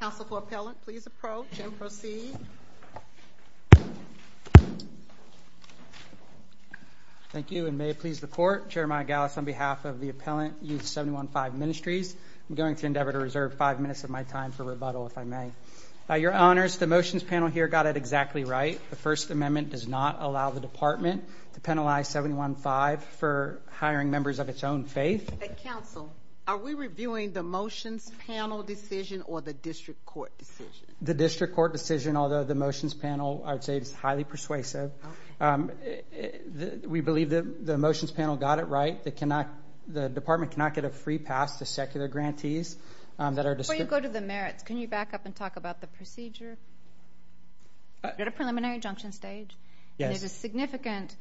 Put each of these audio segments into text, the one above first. Council for Appellant please approach and proceed. Thank you and may it please the court, Chairman Gallus on behalf of the Appellant Youth 71Five Ministries. I'm going to endeavor to reserve five minutes of my time for rebuttal if I may. Your Honors, the motions panel here got it exactly right. The First Amendment does not allow the department to penalize 71Five for hiring members of its own faith. Council, are we reviewing the motions panel decision or the district court decision? The district court decision although the motions panel I would say is highly persuasive. We believe that the motions panel got it right. The department cannot get a free pass to secular grantees that are... Before you go to the merits, can you back up and talk about the procedure at a preliminary injunction stage? There's a significant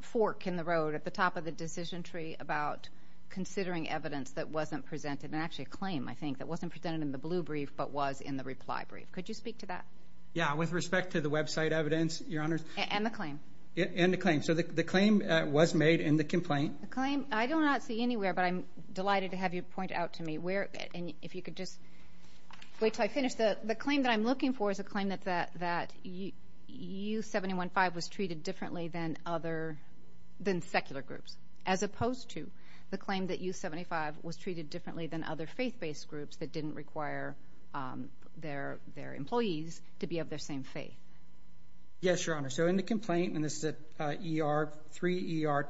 fork in the road at the top of the decision tree about considering evidence that wasn't presented and actually a claim I think that wasn't presented in the blue brief but was in the reply brief. Could you speak to that? Yeah, with respect to the website evidence, Your Honors. And the claim. And the claim. So the claim was made in the complaint. The claim, I do not see anywhere but I'm delighted to have you point out to me where and if you could just wait till I finish. The claim that I'm looking for is a claim that Youth 71Five was treated differently than other, than secular groups. As opposed to the claim that Youth 75 was treated differently than other faith based groups that didn't require their employees to be of their same faith. Yes, Your Honor. So in the complaint, and this is at ER 3 ER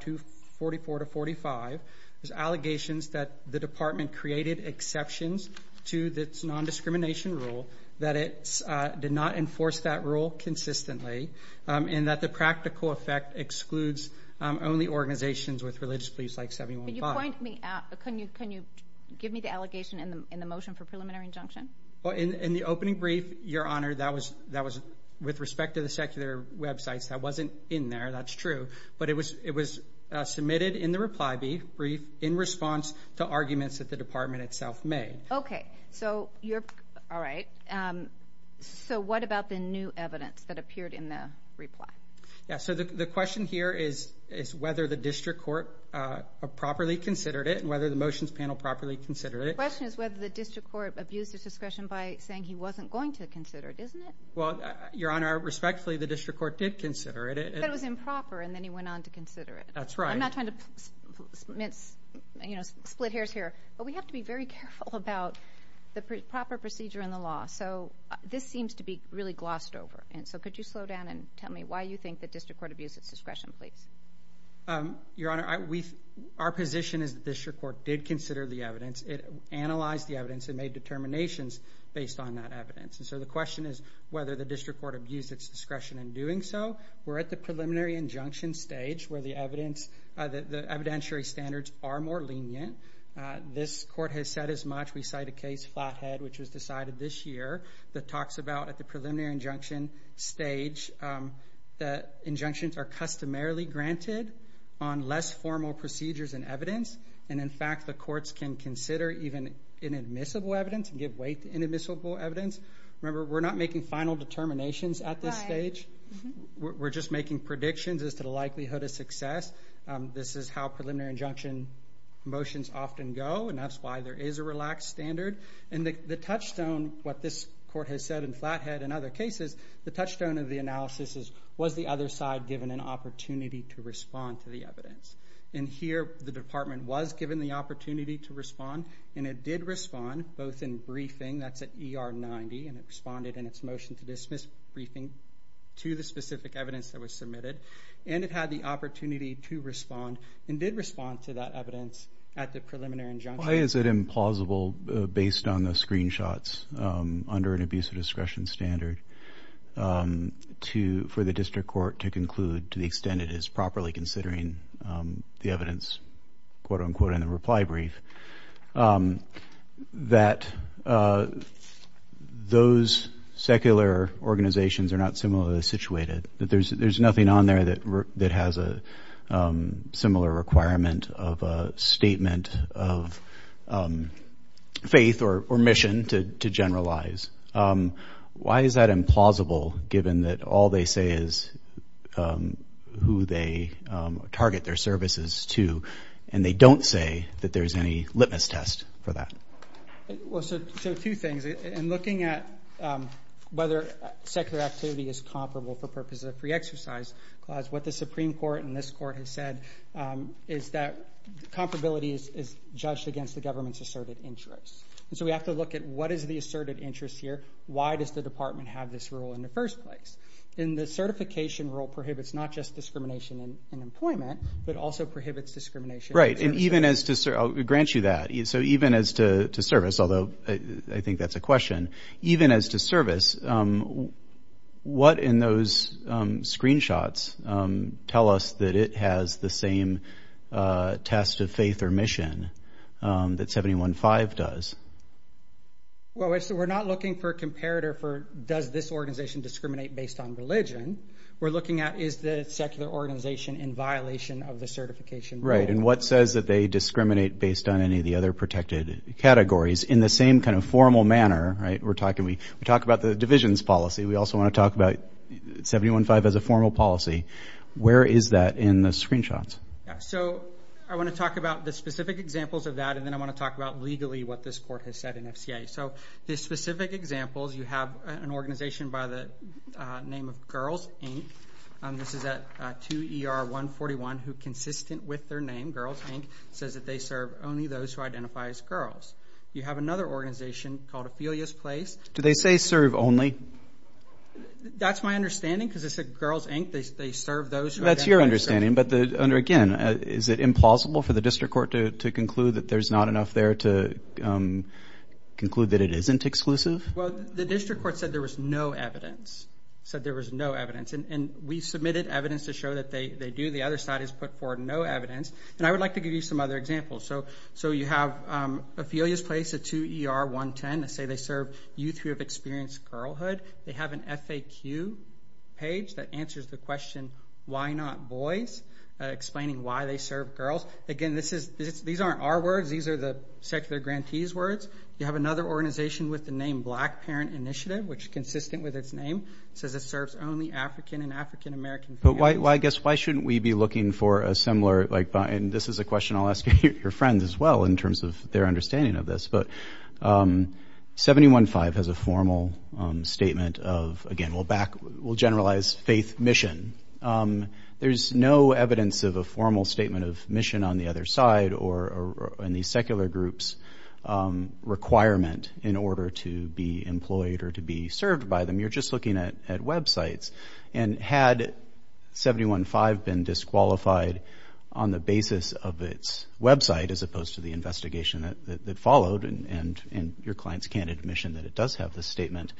244-45, there's allegations that the department created exceptions to its non-discrimination rule, that it did not enforce that rule consistently, and that the practical effect excludes only organizations with religious beliefs like 71Five. Can you point me, can you give me the allegation in the motion for preliminary injunction? In the opening brief, Your Honor, that was with respect to the secular websites, that wasn't in there, that's true. But it was submitted in the reply brief in response to arguments that the department itself made. Okay, so you're, alright, so what about the new evidence that appeared in the reply? Yeah, so the question here is whether the district court properly considered it, and whether the motions panel properly considered it. The question is whether the district court abused its discretion by saying he wasn't going to consider it, isn't it? Well, Your Honor, respectfully, the district court did consider it. But it was improper, and then he went on to consider it. That's right. I'm not trying to split hairs here, but we have to be very careful about the proper procedure in the law. So this seems to be really glossed over. So could you slow down and tell me why you think the district court abused its discretion, please? Your Honor, our position is the district court did consider the evidence, it analyzed the evidence, it made determinations based on that evidence. So the question is whether the district court abused its discretion in doing so. We're at the preliminary injunction stage where the evidence, the evidentiary standards are more lenient. This court has said as much. We cite a case, Flathead, which was decided this year, that talks about at the preliminary injunction stage, that injunctions are customarily granted on less formal procedures and evidence, and in fact, the courts can consider even inadmissible evidence and give way to inadmissible evidence. Remember, we're not making final determinations at this stage. We're just making predictions as to the likelihood of success. This is how preliminary injunction motions often go, and that's why there is a relaxed standard. And the touchstone, what this court has said in Flathead and other cases, the touchstone of the analysis is, was the other side given an opportunity to respond to the evidence? And here, the department was given the opportunity to respond, and it did respond, both in briefing, that's at ER 90, and it responded in its motion to dismiss briefing to the specific evidence that was submitted, and it had the opportunity to respond, and did respond to that evidence at the preliminary injunction. Why is it implausible, based on the screenshots, under an abuse of discretion standard, to, for the district court to conclude to the extent it is properly considering the evidence, quote-unquote, in the reply brief, that those secular organizations are not similarly situated? That there's nothing on there that has a similar requirement of a statement of faith or mission to generalize? Why is that implausible, given that all they say is who they target their services to, and they don't say that there's any litmus test for that? Well, so two things. In looking at whether secular activity is comparable for purposes of free exercise clause, what the Supreme Court and this court have said is that comparability is judged against the government's asserted interests. And so we have to look at what is the asserted interest here, why does the department have this rule in the first place? In the certification rule prohibits not just discrimination in employment, but also prohibits discrimination. Right, and even as to, I'll grant you that, so even as to service, although I think that's a question, even as to service, what in those screenshots tell us that it has the same test of faith or mission that 715 does? Well, so we're not looking for a comparator for does this organization discriminate based on religion, we're looking at is the secular organization in violation of the certification rule. Right, and what says that they discriminate based on any of the other protected categories in the same kind of formal manner, right? We're talking, we talk about the divisions policy, we also want to talk about 715 as a formal policy. Where is that in the screenshots? So I want to talk about the specific examples of that, and then I want to talk about legally what this court has said in FCA. So the specific examples, you have an organization by the name of Girls, Inc., this is at 2ER141, who consistent with their name, Girls, Inc., says that they serve only those who identify as girls. You have another organization called Ophelia's Place. Do they say serve only? That's my understanding, because it said Girls, Inc., they serve those who identify as girls. That's your understanding, but again, is it implausible for the district court to conclude that there's not enough there to conclude that it isn't exclusive? Well, the district court said there was no evidence, said there was no evidence, and we submitted evidence to show that they do. The other side has put forward no evidence, and I would like to give you some other examples. So you have Ophelia's Place at 2ER110, they say they serve youth who have experienced girlhood. They have an FAQ page that answers the question, why not boys, explaining why they serve girls. Again, these aren't our words. These are the secular grantees' words. You have another organization with the name Black Parent Initiative, which is consistent with its name. It says it serves only African and African-American parents. But why, I guess, why shouldn't we be looking for a similar, like, and this is a question I'll ask your friends as well in terms of their understanding of this, but 715 has a formal statement of, again, we'll back, we'll generalize faith mission. There's no evidence of a formal statement of mission on the other side or in the secular group's requirement in order to be employed or to be served by them. You're just looking at websites. And had 715 been disqualified on the basis of its website as opposed to the investigation that followed, and your clients can't admission that it does have the statement,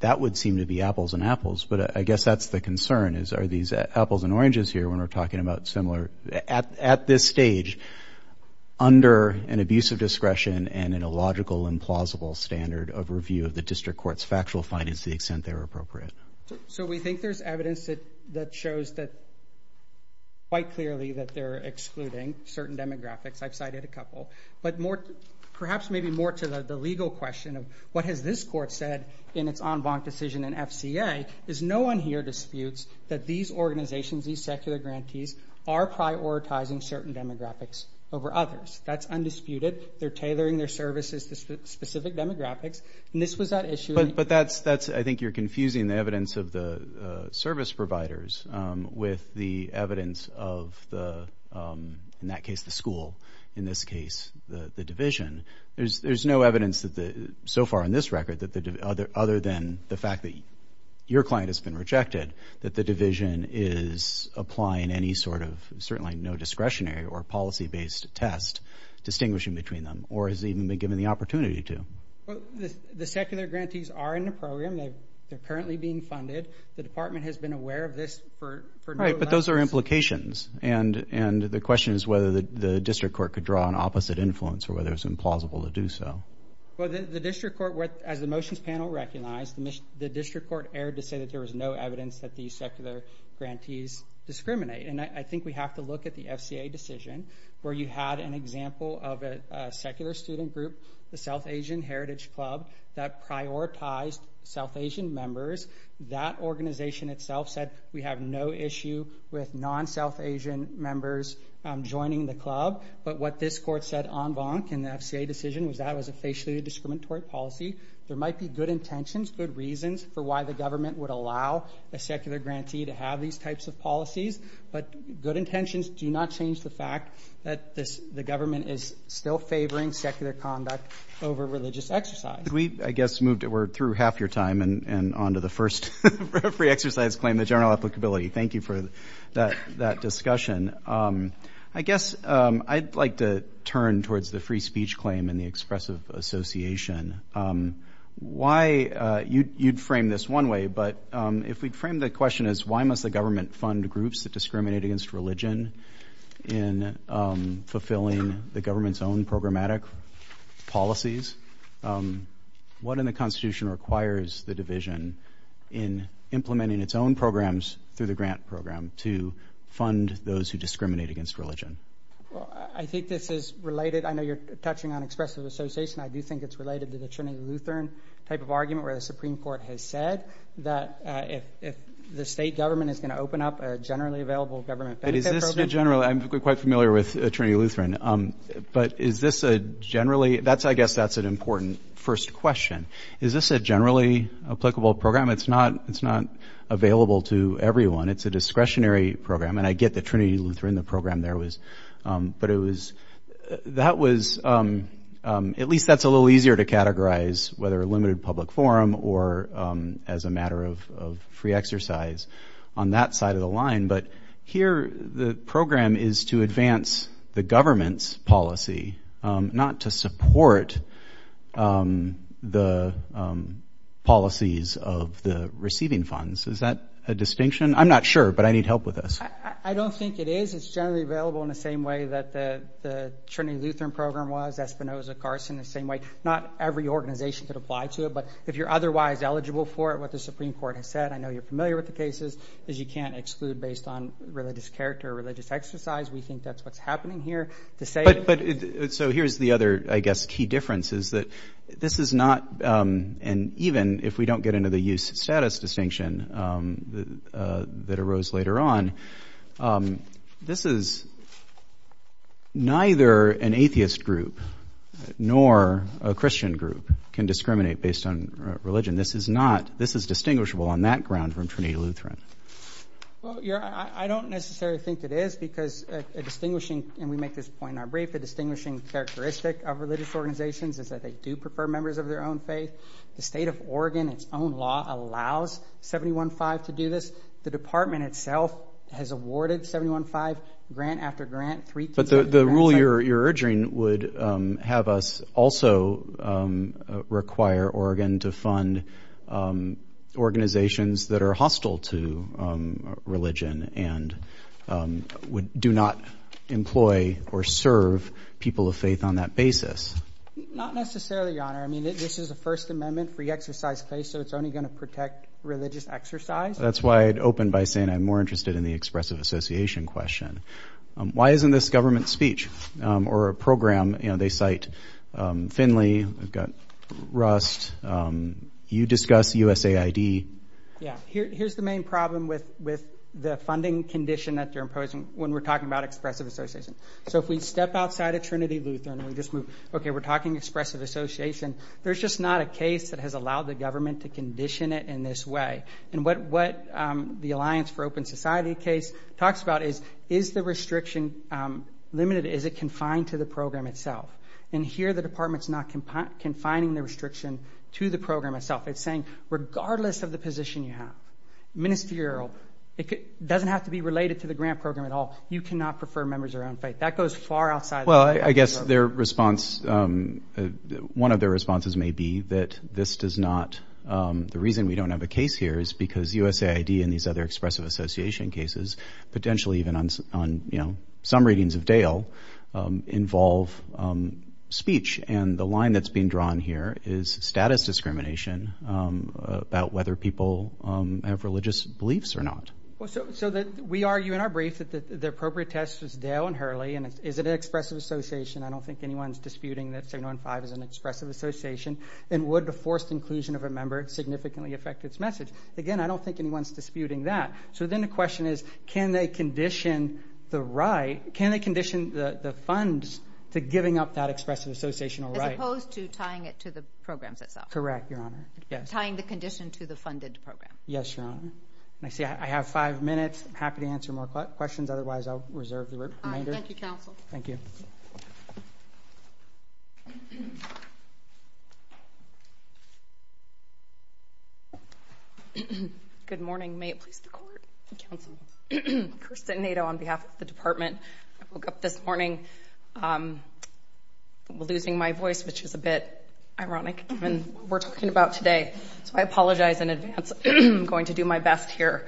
that would seem to be apples and apples. But I guess that's the concern, is are these apples and apples? Are there changes here when we're talking about similar, at this stage, under an abuse of discretion and in a logical and plausible standard of review of the district court's factual findings to the extent they're appropriate? So we think there's evidence that shows that quite clearly that they're excluding certain demographics. I've cited a couple. But perhaps maybe more to the legal question of what has this court said in its en banc decision in FCA, is no one here disputes that these organizations, these secular grantees are prioritizing certain demographics over others. That's undisputed. They're tailoring their services to specific demographics. And this was that issue. But that's, I think you're confusing the evidence of the service providers with the evidence of the, in that case, the school. In this case, the division. There's no evidence so far in this record, other than the fact that your client has been rejected, that the division is applying any sort of, certainly no discretionary or policy-based test, distinguishing between them, or has even been given the opportunity to. The secular grantees are in the program. They're currently being funded. The department has been aware of this for... Right, but those are implications. And the question is whether the district court could draw an opposite influence or whether it's implausible to do so. Well, the district court, as the motions panel recognized, the district court erred to say that there was no evidence that these secular grantees discriminate. And I think we have to look at the FCA decision, where you had an example of a secular student group, the South Asian Heritage Club, that prioritized South Asian members. That organization itself said we have no issue with non-South Asian members joining the club. But what this court said en banc in the FCA decision was that it was a facially discriminatory policy. There might be good intentions, good reasons for why the government would allow a secular grantee to have these types of policies, but good intentions do not change the fact that the government is still favoring secular conduct over religious exercise. We, I guess, moved... We're through half your time and on to the first free exercise claim, the general applicability. Thank you for that discussion. I guess I'd like to turn towards the free speech claim and the expressive association. Why... You'd frame this one way, but if we'd frame the question as why must the government fund groups that discriminate against religion in fulfilling the government's own programmatic policies, what in the Constitution requires the division in implementing its own programs through the grant program to fund those who discriminate against religion? I think this is related... I know you're touching on expressive association. I do think it's related to the Trinity Lutheran type of argument where the Supreme Court has said that if the state government is going to open up a generally available government benefit program... But is this a generally... I'm quite familiar with Trinity Lutheran, but is this a generally... I guess that's an important first question. Is this a generally applicable program? It's not available to everyone. It's a discretionary program, and I get that Trinity Lutheran, the program there was... But it was... At least that's a little easier to categorize whether a limited public forum or as a matter of free exercise on that side of the line. But here the program is to advance the government's policy, not to support the policies of the receiving funds. Is that a distinction? I'm not sure, but I need help with this. I don't think it is. It's generally available in the same way that the Trinity Lutheran program was, Espinoza, Carson, the same way. Not every organization could apply to it, but if you're otherwise eligible for it, what the Supreme Court has said, I know you're familiar with the cases, is you can't exclude based on religious character or religious exercise. We think that's what's happening here. To say... But... So here's the other, I guess, key difference is that this is not... And even if we don't get into the youth status distinction that arose later on, this is neither an atheist group nor a Christian group can discriminate based on religion. This is distinguishable on that ground from Trinity Lutheran. Well, I don't necessarily think it is because a distinguishing, and we make this point in our brief, a distinguishing characteristic of religious organizations is that they do prefer members of their own faith. The state of Oregon, its own law, allows 715 to do this. The department itself has awarded 715 grant after grant. But the rule you're urging would have us also require Oregon to fund organizations that are hostile to religion and do not employ or serve people of faith on that basis. Not necessarily, Your Honor. I mean, this is a First Amendment free exercise case, so it's only going to protect religious exercise. That's why I'd open by saying I'm more interested in the expressive association question. Why isn't this government speech or a program... They cite Finley, we've got Rust, you discuss USAID. Yeah. Here's the main problem with the funding condition that they're imposing when we're talking about expressive association. So if we step outside of Trinity Lutheran and we just move... Okay, we're talking expressive association. There's just not a case that has allowed the government to condition it in this way. And what the Alliance for Open Society case talks about is, is the restriction limited? Is it confined to the program itself? And here the department's not confining the restriction to the program itself. It's saying regardless of the position you have, ministerial, it doesn't have to be related to the grant program at all. You cannot prefer members of your own faith. That goes far outside... Well, I guess their response, one of their responses may be that this does not... The reason we don't have a case here is because USAID and these other expressive association cases, potentially even on some readings of Dale, involve speech. And the line that's being drawn here is status discrimination about whether people have religious beliefs or not. So we argue in our brief that the appropriate test was Dale and Hurley, and is it an expressive association? I don't think anyone's disputing that 715 is an expressive association. And would the forced inclusion of a member significantly affect its message? Again, I don't think anyone's disputing that. So then the question is, can they condition the right, can they condition the funds to giving up that expressive associational right? As opposed to tying it to the programs itself. Correct, Your Honor. Yes. Tying the condition to the funded program. Yes, Your Honor. I see I have five minutes. I'm happy to answer more questions, otherwise I'll reserve the remainder. Thank you, Counsel. Thank you. Good morning. May it please the Court and Counsel. Kirsten Nadeau on behalf of the Department. I woke up this morning losing my voice, which is a bit ironic given what we're talking about today. So I apologize in advance. I'm going to do my best here.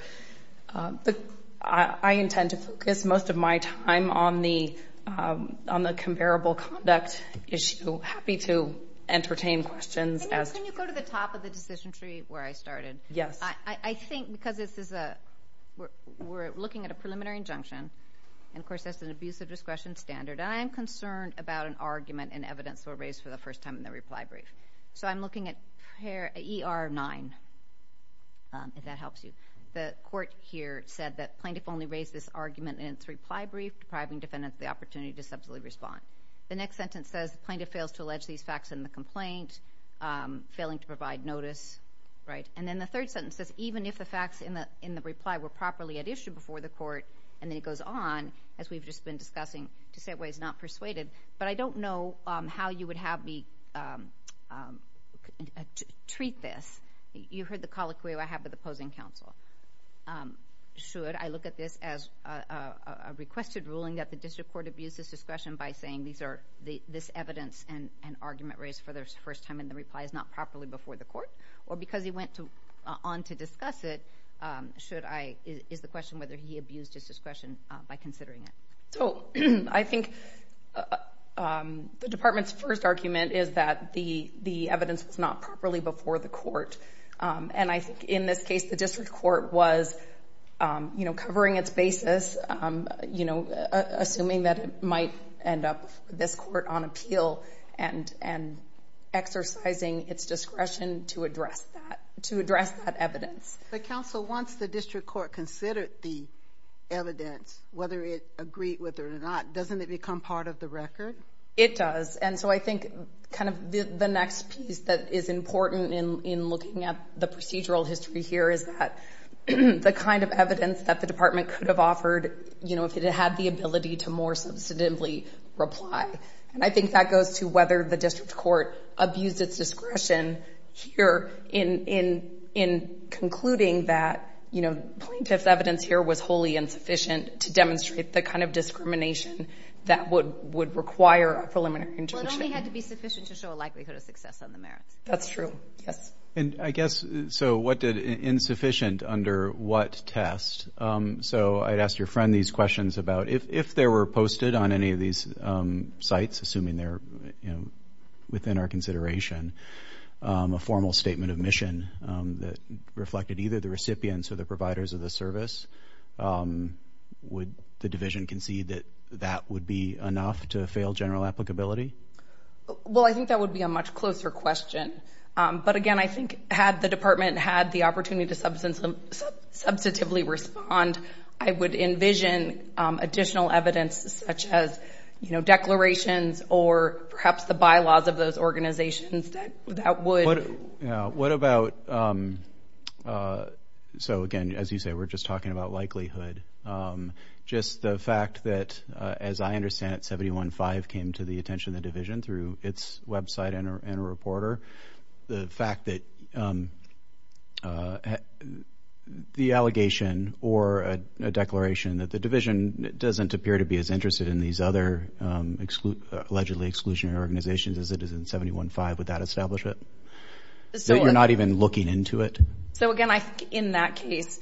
I intend to focus most of my time on the on the comparable conduct issue. Happy to entertain questions. Can you go to the top of the decision tree where I started? Yes. I think because this is a, we're looking at a preliminary injunction, and of course that's an abusive discretion standard. I am concerned about an argument and evidence were raised for the first time in the reply brief. So I'm looking at here, ER 9, if that helps you. The court here said that plaintiff only raised this argument in its reply brief, depriving defendants the opportunity to subsequently respond. The next sentence says the plaintiff fails to allege these facts in the complaint, failing to provide notice. Right. And then the third sentence says, even if the facts in the in the reply were properly at issue before the court, and then it goes on, as we've just been discussing, to say it was not persuaded. But I don't know how you would have me treat this. You heard the colloquy I have with opposing counsel. Should I look at this as a requested ruling that the district court abuses discretion by saying these are, this evidence and argument raised for the first time in the reply is not properly before the court? Or because he went on to discuss it, should I, is the question whether he abused his discretion by considering it? So I think the department's first argument is that the evidence was not properly before the court. And I think in this case, the district court was, you know, covering its basis, you know, assuming that it might end up this court on appeal and exercising its discretion to address that. To address that evidence. But counsel, once the district court considered the evidence, whether it agreed with it or not, doesn't it become part of the record? It does. And so I think kind of the next piece that is important in looking at the procedural history here is that the kind of evidence that the department could have offered, you know, if it had the ability to more substantively reply. And I think that goes to whether the district court abused its discretion here in concluding that, you know, plaintiff's evidence here was wholly insufficient to demonstrate the kind of discrimination that would require a preliminary intervention. Well, it only had to be sufficient to show a likelihood of success on the merits. That's true. Yes. And I guess, so what did insufficient under what test? So I'd asked your friend these questions about if there were posted on any of these sites, assuming they're, you know, within our consideration, a formal statement of mission that reflected either the recipients or the providers of the service, would the division concede that that would be enough to fail general applicability? Well, I think that would be a much closer question. But again, I think had the department had the opportunity to substantively respond, I would envision additional evidence such as, you know, declarations or perhaps the bylaws of those organizations that that would. What about, so again, as you say, we're just talking about likelihood. Just the fact that, as I understand it, 715 came to the attention of the division through its website and a reporter. The fact that the allegation or a declaration that the division doesn't appear to be as interested in these other exclude, allegedly exclusionary organizations as it is in 715 with that establishment. So we're not even looking into it. So again, I think in that case,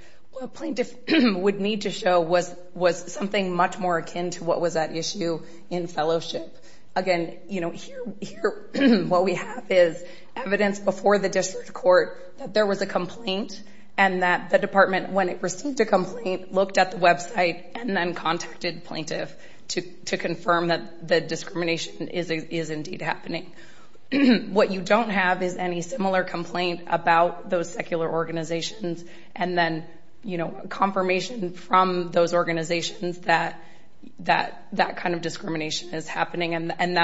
plaintiff would need to show was something much more akin to what was that issue in fellowship. Again, you know, here what we have is evidence before the district court that there was a complaint and that the department, when it received a complaint, looked at the website and then contacted plaintiff to confirm that the discrimination is indeed happening. What you don't have is any similar complaint about those secular organizations and then, you know, confirmation from those organizations that that kind of discrimination is happening. And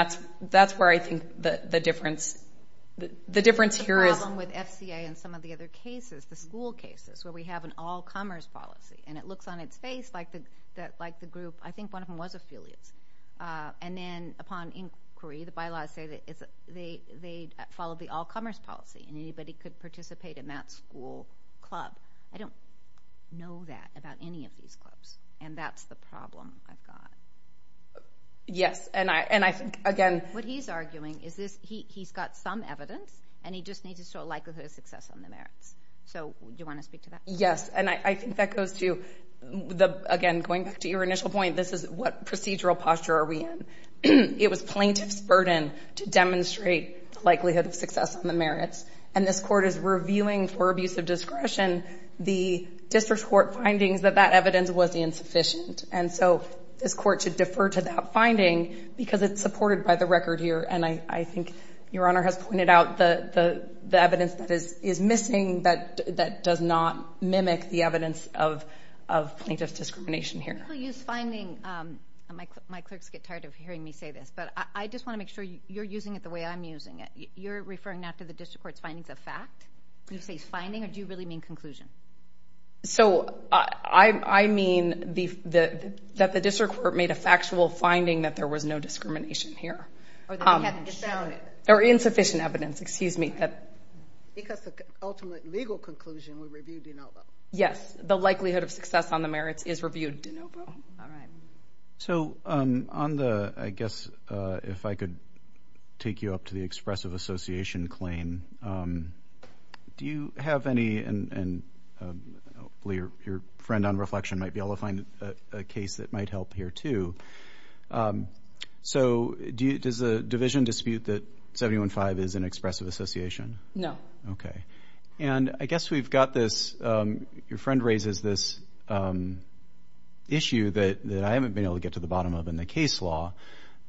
that's where I think the difference here is. The problem with FCA and some of the other cases, the school cases where we have an all-comers policy and it looks on its face like the group, I think one of them was affiliates. And then upon inquiry, the bylaws say that they followed the all-comers policy and anybody could participate in that school club. I don't know that about any of these clubs. And that's the problem I've got. What he's arguing is this, he's got some evidence and he just needs to show a likelihood of success on the merits. So do you want to speak to that? Yes. And I think that goes to the, again, going back to your initial point, this is what procedural posture are we in? It was plaintiff's burden to demonstrate the likelihood of success on the merits. And this court is reviewing for abuse of discretion, the district court findings that that evidence was insufficient. And so this court should defer to that finding because it's supported by the record here. And I think your honor has pointed out the evidence that is missing that does not mimic the evidence of plaintiff's discrimination here. I'll use finding, my clerks get tired of hearing me say this, but I just want to make sure you're using it the way I'm using it. You're referring now to the district court's findings of fact? You say finding or do you really mean conclusion? So I mean that the district court made a factual finding that there was no discrimination here. Or they hadn't shown it. Or insufficient evidence, excuse me. Because the ultimate legal conclusion would review de novo. Yes. The likelihood of success on the merits is reviewed. De novo. All right. So on the, I guess if I could take you up to the expressive association claim, do you have any, and hopefully your friend on reflection might be able to find a case that might help here too. So does the division dispute that 715 is an expressive association? No. Okay. And I guess we've got this, your friend raises this issue that I haven't been able to get to the bottom of in the case law,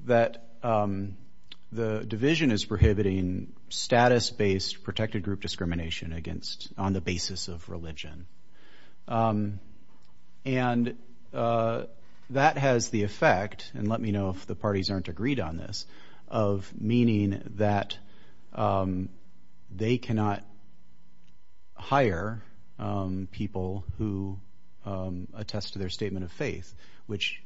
that the division is prohibiting status-based protected group discrimination against, on the basis of religion. And that has the effect, and let me know if the parties aren't agreed on this, of meaning that they cannot hire people who attest to their statement of faith, which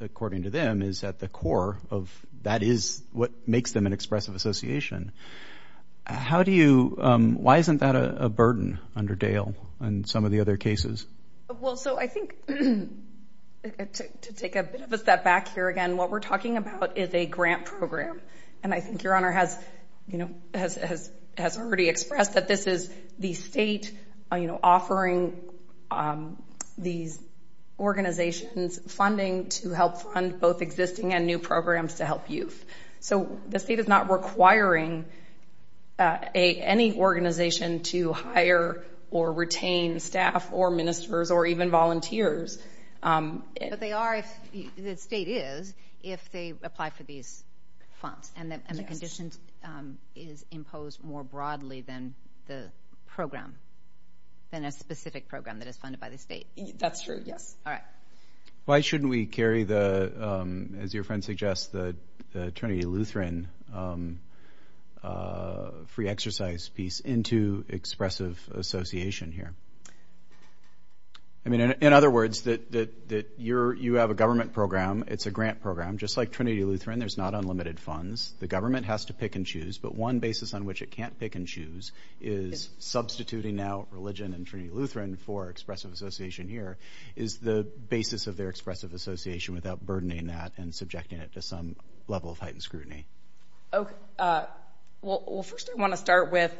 according to them is at the core of, that is what makes them an expressive association. How do you, why isn't that a burden under Dale and some of the other cases? Well, so I think to take a bit of a step back here again, what we're talking about is a grant program. And I think your honor has already expressed that this is the state offering these organizations funding to help fund both existing and new programs to help youth. So the state is not requiring any organization to hire or retain staff or ministers or even volunteers. But they are if, the state is, if they apply for these funds and the conditions is imposed more broadly than the program, than a specific program that is funded by the state. That's true, yes. All right. Why shouldn't we carry the, as your friend suggests, the Trinity Lutheran free exercise piece into expressive association here? I mean, in other words, that you have a government program. It's a grant program. Just like Trinity Lutheran, there's not unlimited funds. The government has to pick and choose. But one basis on which it can't pick and choose is substituting now religion and Trinity Lutheran for expressive association here is the basis of their expressive association without burdening that and subjecting it to some level of heightened scrutiny. Well, first I want to start with,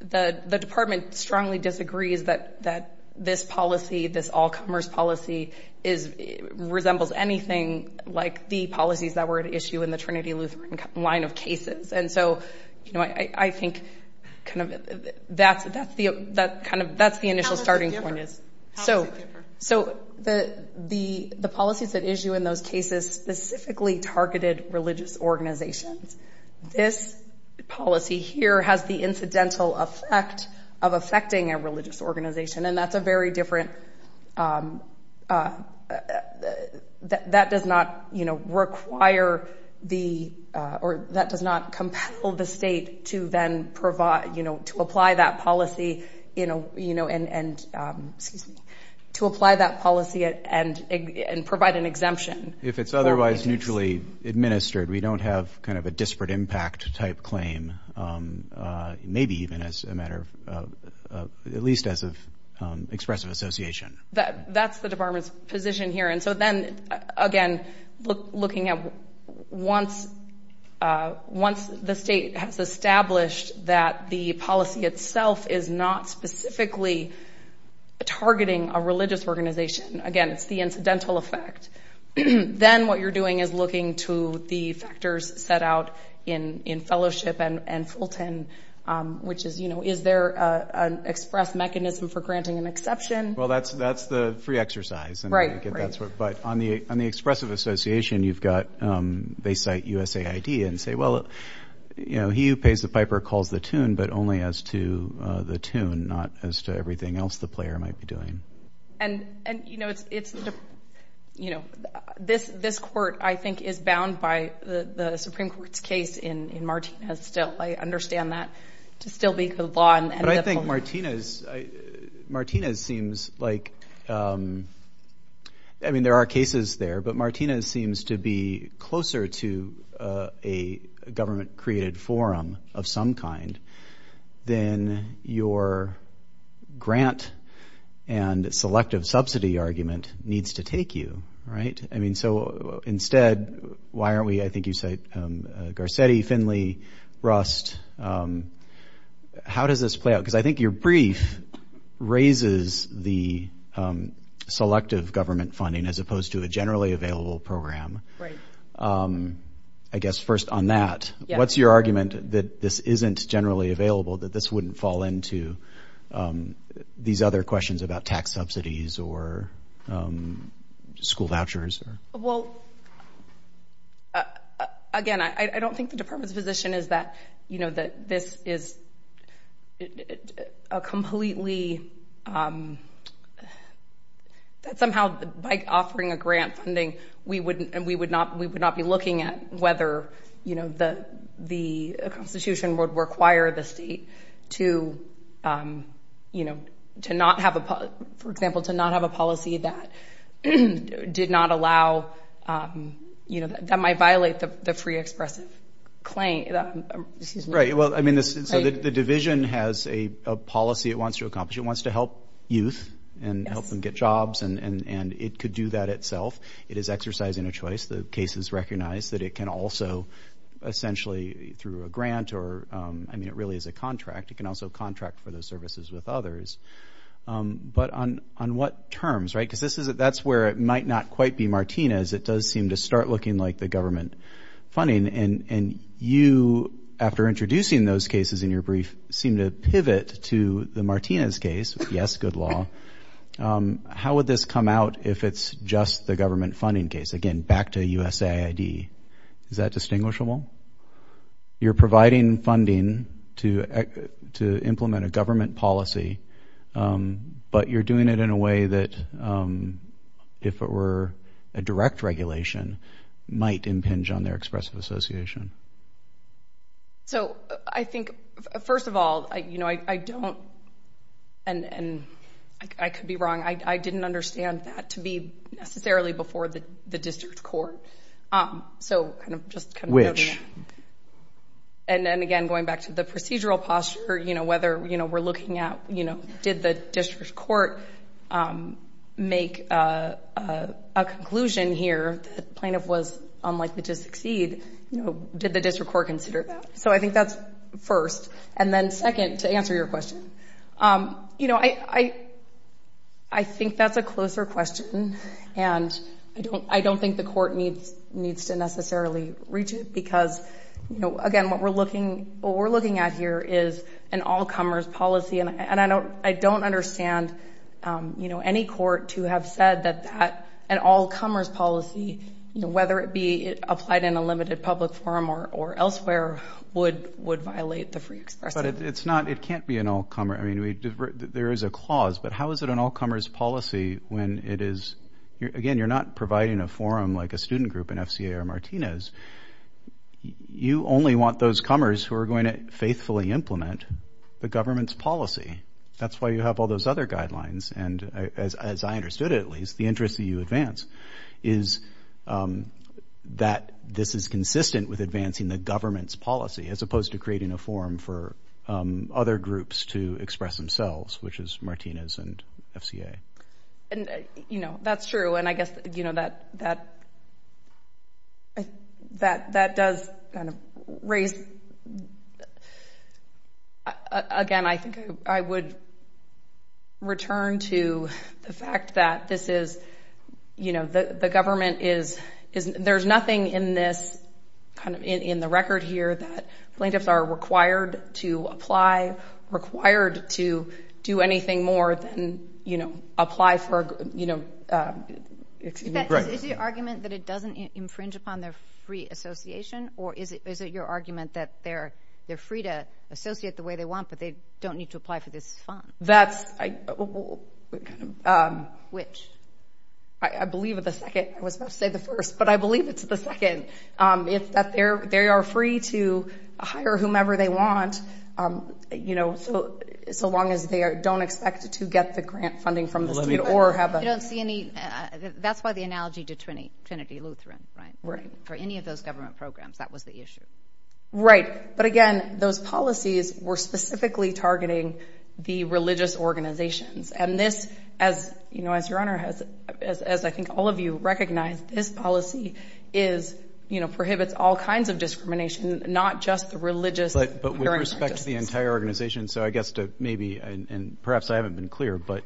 the department strongly disagrees that this policy, this all commerce policy resembles anything like the policies that were at issue in the Trinity Lutheran line of cases. And so I think that's the initial starting point. How does it differ? So the policies that issue in those cases specifically targeted religious organizations. This policy here has the incidental effect of affecting a religious organization. And that's a very different... ...that does not require the, or that does not compel the state to then provide, to apply that policy and provide an exemption. If it's otherwise mutually administered, we don't have kind of a disparate impact type claim. Maybe even as a matter of, at least as of expressive association. That's the department's position here. And so then again, looking at once, once the state has established that the policy itself is not specifically targeting a religious organization, again, it's the incidental effect. Then what you're doing is looking to the factors set out in fellowship and Fulton, which is, you know, is there an express mechanism for granting an exception? Well, that's the free exercise. Right, right. But on the expressive association, you've got, they cite USAID and say, well, you know, he who pays the piper calls the tune, but only as to the tune, not as to everything else the player might be doing. And, and, you know, it's, it's, you know, this, this court, I think, is bound by the Supreme Court's case in Martinez still. I understand that to still be the law. But I think Martinez, I, Martinez seems like, I mean, there are cases there, but Martinez seems to be closer to a government created forum of some kind than your grant and selective subsidy argument needs to take you, right? I mean, so instead, why aren't we, I think you say Garcetti, Finley, Rust. How does this play out? Because I think your brief raises the selective government funding as opposed to a generally available program. I guess first on that, what's your argument that this isn't generally available, that this wouldn't fall into these other questions about tax subsidies or school vouchers? Well, again, I don't think the department's position is that, you know, that this is a completely, that somehow by offering a grant funding, we would, we would not, we would not be looking at whether, you know, the, the Constitution would require the state to, you know, to not have a, for example, to not have a policy that did not allow, you know, that might violate the free expressive claim, excuse me. Right. Well, I mean, the division has a policy it wants to accomplish. It wants to help youth and help them get jobs. And it could do that itself. It is exercising a choice. The case is recognized that it can also essentially through a grant or, I mean, it really is a It can also contract for those services with others. But on, on what terms, right? Because this is, that's where it might not quite be Martinez. It does seem to start looking like the government funding. And you, after introducing those cases in your brief, seem to pivot to the Martinez case. Yes, good law. How would this come out if it's just the government funding case? Again, back to USAID, is that distinguishable? You're providing funding to, to implement a government policy. But you're doing it in a way that, if it were a direct regulation, might impinge on their expressive association. So I think, first of all, I, you know, I, I don't, and, and I could be wrong. I didn't understand that to be necessarily before the, the district court. So kind of just kind of. And then again, going back to the procedural posture, you know, whether, you know, we're looking at, you know, did the district court make a, a conclusion here that the plaintiff was unlikely to succeed? You know, did the district court consider that? So I think that's first. And then second, to answer your question, you know, I, I, I think that's a closer question. And I don't, I don't think the court needs, needs to necessarily reach it. Because, you know, again, what we're looking, what we're looking at here is an all comers policy. And, and I don't, I don't understand, you know, any court to have said that, that an all comers policy, you know, whether it be applied in a limited public forum or, or elsewhere would, would violate the free express. But it's not, it can't be an all comer. I mean, we, there is a clause, but how is it an all comers policy when it is, again, you're not providing a forum like a student group in FCA or Martinez. You only want those comers who are going to faithfully implement the government's policy. That's why you have all those other guidelines. And as, as I understood it, at least, the interest that you advance is that this is consistent with advancing the government's policy, as opposed to creating a forum for other groups to express themselves, which is Martinez and FCA. And, you know, that's true. And I guess, you know, that, that, that, that does kind of raise, again, I think I would return to the fact that this is, you know, the, the government is, there's nothing in this kind of, in the record here that plaintiffs are required to apply, required to do anything more than, you know, apply for, you know, excuse me. Is your argument that it doesn't infringe upon their free association? Or is it, is it your argument that they're, they're free to associate the way they want, but they don't need to apply for this fund? That's, I kind of. Which? I believe the second, I was about to say the first, but I believe it's the second. It's that they're, they are free to hire whomever they want, you know, so, so long as they don't expect to get the grant funding from the state or have a. You don't see any, that's why the analogy to Trinity, Trinity Lutheran, right? Right. For any of those government programs, that was the issue. Right. But again, those policies were specifically targeting the religious organizations. And this, as you know, as your honor has, as I think all of you recognize, this policy is, you know, prohibits all kinds of discrimination, not just the religious. But, but with respect to the entire organization, so I guess to maybe, and perhaps I haven't been clear, but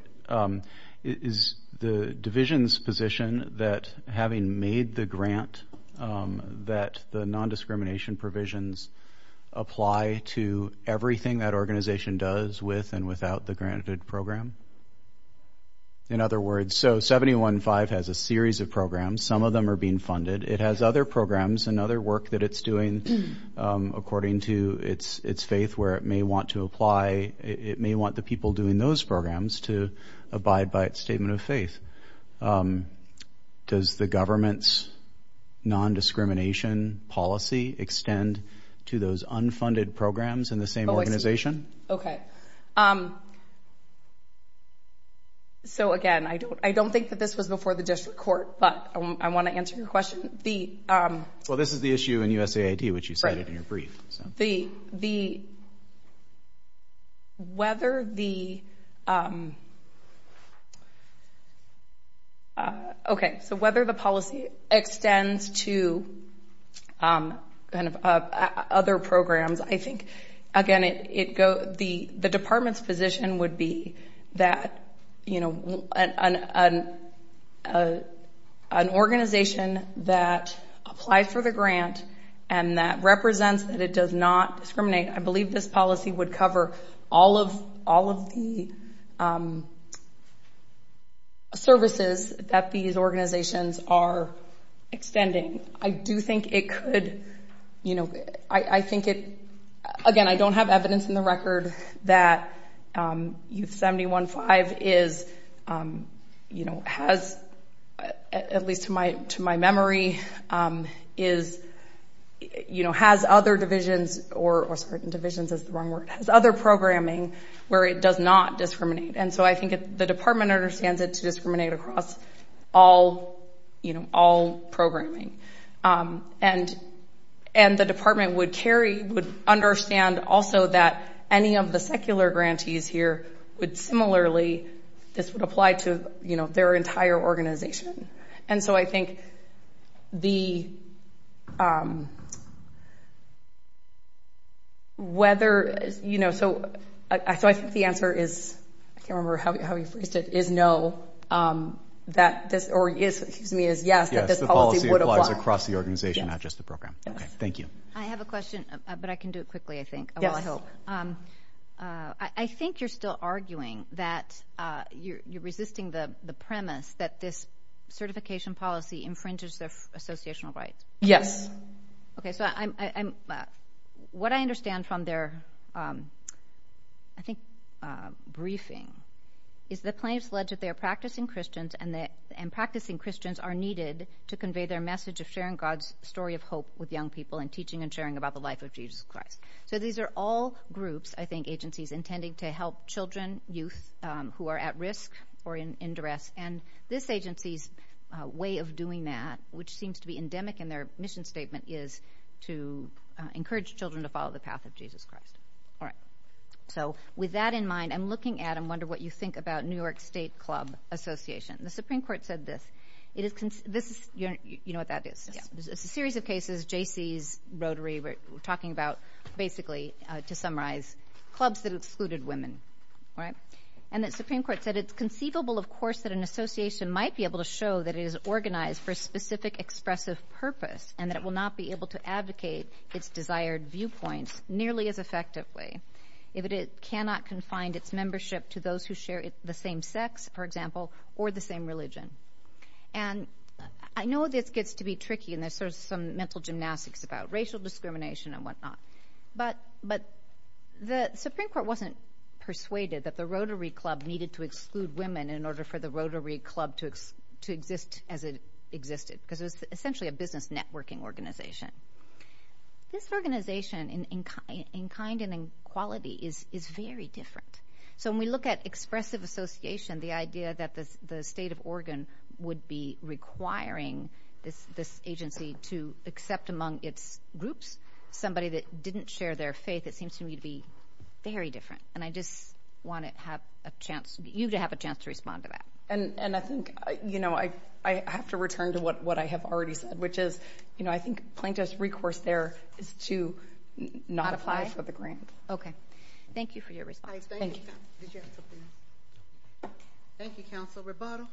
is the division's position that having made the grant that the non-discrimination provisions apply to everything that organization does with and without the granted program? In other words, so 715 has a series of programs. Some of them are being funded. It has other programs and other work that it's doing according to its, its faith where it may want to apply. It may want the people doing those programs to abide by its statement of faith. Um, does the government's non-discrimination policy extend to those unfunded programs in the same organization? Okay. Um, so again, I don't, I don't think that this was before the district court, but I want to answer your question. The, um. Well, this is the issue in USAID, which you cited in your brief. The, the, whether the, um. Okay. So whether the policy extends to, um, kind of, uh, other programs, I think, again, it, it go, the, the department's position would be that, you know, an, an, uh, an organization that applies for the grant and that represents that it does not discriminate. I believe this policy would cover all of, all of the, um, services that these organizations are extending. I do think it could, you know, I, I think it, again, I don't have evidence in the record that, um, Youth 71.5 is, um, you know, has, at least to my, to my memory, um, is, you know, has other divisions or, or certain divisions is the wrong word, has other programming where it does not discriminate. And so I think the department understands it to discriminate across all, you know, all programming. And, and the department would carry, would understand also that any of the secular grantees here would similarly, this would apply to, you know, their entire organization. And so I think the, um, whether, you know, so I, so I think the answer is, I can't remember how you phrased it, is no, um, that this, or is, excuse me, is yes, that this policy across the organization, not just the program. Okay. Thank you. I have a question, but I can do it quickly, I think, well, I hope, um, uh, I, I think you're still arguing that, uh, you're, you're resisting the, the premise that this certification policy infringes their associational rights. Yes. Okay. So I'm, I'm, uh, what I understand from their, um, I think, uh, briefing is the claims led to their practicing Christians and the, and practicing Christians are needed to convey their message of sharing God's story of hope with young people and teaching and sharing about the life of Jesus Christ. So these are all groups, I think, agencies intending to help children, youth, um, who are at risk or in, in duress. And this agency's, uh, way of doing that, which seems to be endemic in their mission statement is to, uh, encourage children to follow the path of Jesus Christ. All right. So with that in mind, I'm looking at, I'm wondering what you think about New York State Club Association. The Supreme Court said this, it is, this is, you know what that is? It's a series of cases, Jaycee's Rotary, we're talking about basically, uh, to summarize clubs that excluded women, right? And the Supreme Court said, it's conceivable, of course, that an association might be able to show that it is organized for a specific expressive purpose and that it will not be able to advocate its desired viewpoints nearly as effectively if it cannot confine its membership to those who share the same sex, for example, or the same religion. And I know this gets to be tricky and there's sort of some mental gymnastics about racial discrimination and whatnot, but, but the Supreme Court wasn't persuaded that the Rotary Club needed to exclude women in order for the Rotary Club to, to exist as it existed, because it was essentially a business networking organization. This organization in, in kind, in kind and in quality is, is very different. So when we look at expressive association, the idea that the, the state of Oregon would be requiring this, this agency to accept among its groups somebody that didn't share their faith, it seems to me to be very different. And I just want to have a chance, you to have a chance to respond to that. And, and I think, you know, I, I have to return to what, what I have already said, which is, you know, I think plaintiff's recourse there is to not apply for the grant. Okay. Thank you for your response. Thank you. Thank you, Counsel Roboto.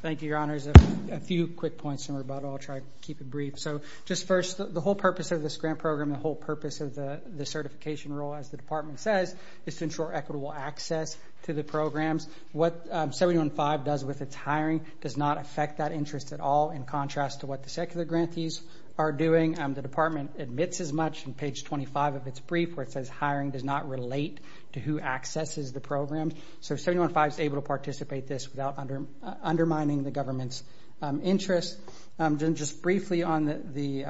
Thank you, Your Honors. A few quick points from Roboto. I'll try to keep it brief. So just first, the whole purpose of this grant program, the whole purpose of the, the certification role, as the department says, is to ensure equitable access to the programs. What 715 does with its hiring does not affect that interest at all in contrast to what the secular grantees are doing. The department admits as much in page 25 of its brief where it says hiring does not relate to who accesses the program. So 715 is able to participate this without undermining the government's interest. Just briefly on the,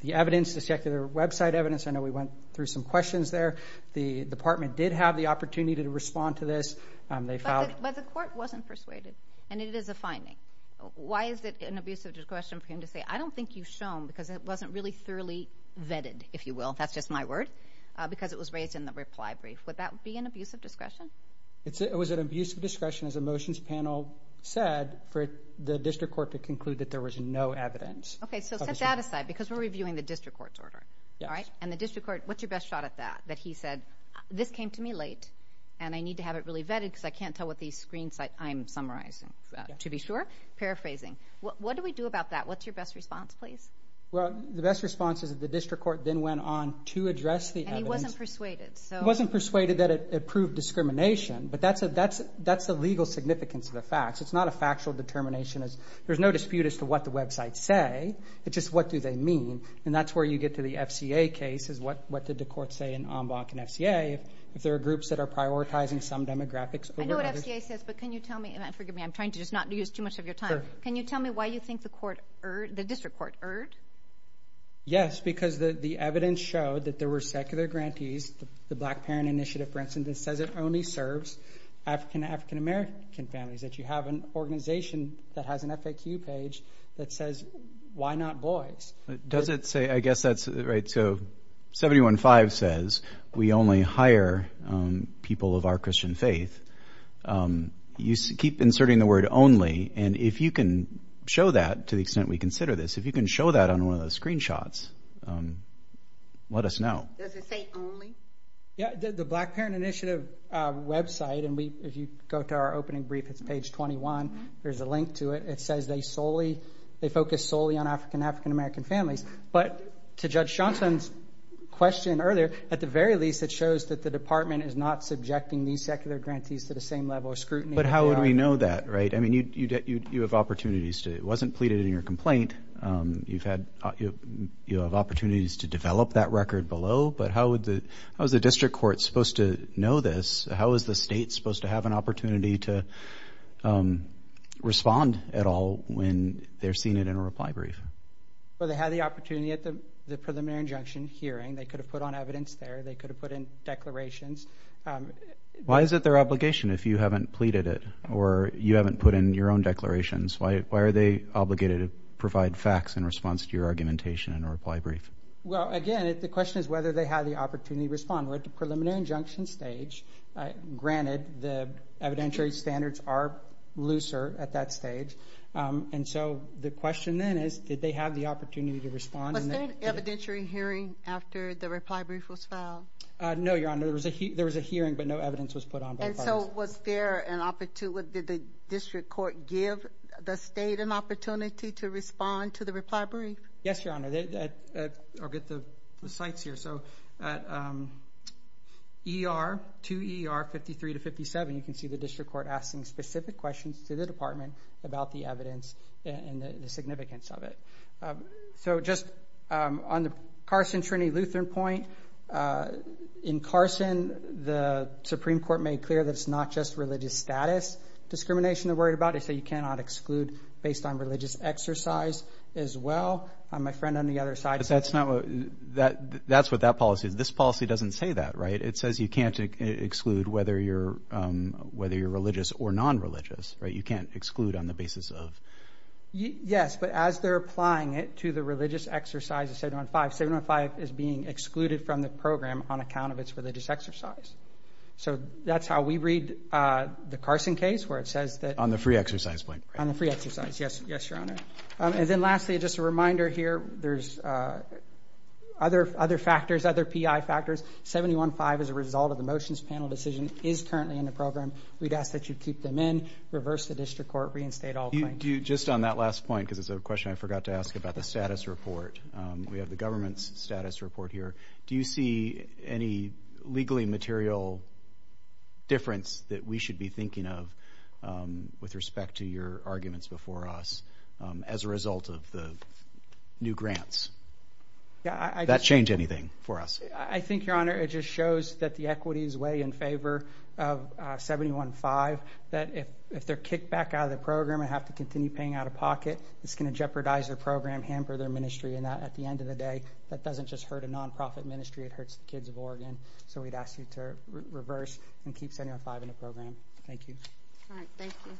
the evidence, the secular website evidence, I know we went through some questions there. The department did have the opportunity to respond to this. They found... But the court wasn't persuaded. And it is a finding. Why is it an abuse of discretion for him to say, I don't think you've shown because it was really thoroughly vetted, if you will. That's just my word. Because it was raised in the reply brief. Would that be an abuse of discretion? It's, it was an abuse of discretion as a motions panel said for the district court to conclude that there was no evidence. Okay. So set that aside because we're reviewing the district court's order. All right. And the district court, what's your best shot at that? That he said, this came to me late and I need to have it really vetted because I can't tell what these screens I'm summarizing, to be sure. Paraphrasing. What do we do about that? What's your best response, please? Well, the best response is that the district court then went on to address the evidence. And he wasn't persuaded. He wasn't persuaded that it proved discrimination. But that's the legal significance of the facts. It's not a factual determination. There's no dispute as to what the websites say. It's just, what do they mean? And that's where you get to the FCA cases. What did the court say in Ombok and FCA? If there are groups that are prioritizing some demographics over others. I know what FCA says, but can you tell me, and forgive me, I'm trying to just not use too much of your time. Can you tell me why you think the district court erred? Yes, because the evidence showed that there were secular grantees, the Black Parent Initiative, for instance, that says it only serves African and African-American families. That you have an organization that has an FAQ page that says, why not boys? Does it say, I guess that's right. So 715 says, we only hire people of our Christian faith. You keep inserting the word only. And if you can show that, to the extent we consider this, if you can show that on one of those screenshots, let us know. Does it say only? Yeah, the Black Parent Initiative website, and if you go to our opening brief, it's page 21. There's a link to it. It says they focus solely on African and African-American families. But to Judge Johnson's question earlier, at the very least, it shows that the department is not subjecting these secular grantees to the same level of scrutiny. But how would we know that, right? I mean, you have opportunities to. It wasn't pleaded in your complaint. You have opportunities to develop that record below. But how is the district court supposed to know this? How is the state supposed to have an opportunity to respond at all when they're seeing it in a reply brief? Well, they had the opportunity at the preliminary injunction hearing. They could have put on evidence there. They could have put in declarations. Why is it their obligation if you haven't pleaded it or you haven't put in your own declarations? Why are they obligated to provide facts in response to your argumentation in a reply brief? Well, again, the question is whether they had the opportunity to respond. We're at the preliminary injunction stage. Granted, the evidentiary standards are looser at that stage. And so the question then is, did they have the opportunity to respond? Was there an evidentiary hearing after the reply brief was filed? No, Your Honor. There was a hearing, but no evidence was put on by the parties. And so was there an opportunity? Did the district court give the state an opportunity to respond to the reply brief? Yes, Your Honor. I'll get the sites here. So at 2 ER 53 to 57, you can see the district court asking specific questions to the department about the evidence and the significance of it. So just on the Carson Trinity Lutheran point in Carson, the Supreme Court made clear that it's not just religious status discrimination they're worried about. They say you cannot exclude based on religious exercise as well. My friend on the other side. That's not what that that's what that policy is. This policy doesn't say that, right? It says you can't exclude whether you're whether you're religious or non-religious, right? You can't exclude on the basis of. Yes, but as they're applying it to the religious exercise of 715, 715 is being excluded from the program on account of its religious exercise. So that's how we read the Carson case, where it says that on the free exercise point on the free exercise. Yes. Yes, Your Honor. And then lastly, just a reminder here. There's other other factors, other PI factors. 715 as a result of the motions panel decision is currently in the program. We'd ask that you keep them in reverse the district court reinstate all. Just on that last point, because it's a question I forgot to ask about the status report. We have the government's status report here. Do you see any legally material difference that we should be thinking of with respect to your arguments before us as a result of the new grants? That change anything for us? I think, Your Honor, it just shows that the equity is way in favor of 715. That if they're kicked back out of the program and have to continue paying out of pocket, it's going to jeopardize their program, hamper their ministry. And at the end of the day, that doesn't just hurt a nonprofit ministry. It hurts the kids of Oregon. So we'd ask you to reverse and keep 715 in the program. Thank you. All right. Thank you.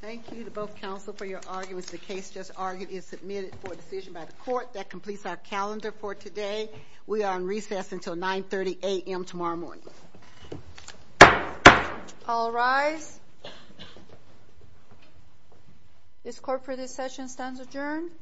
Thank you to both counsel for your arguments. The case just argued is submitted for decision by the court. That completes our calendar for today. We are on recess until 930 a.m. tomorrow morning. All rise. This court for this session stands adjourned.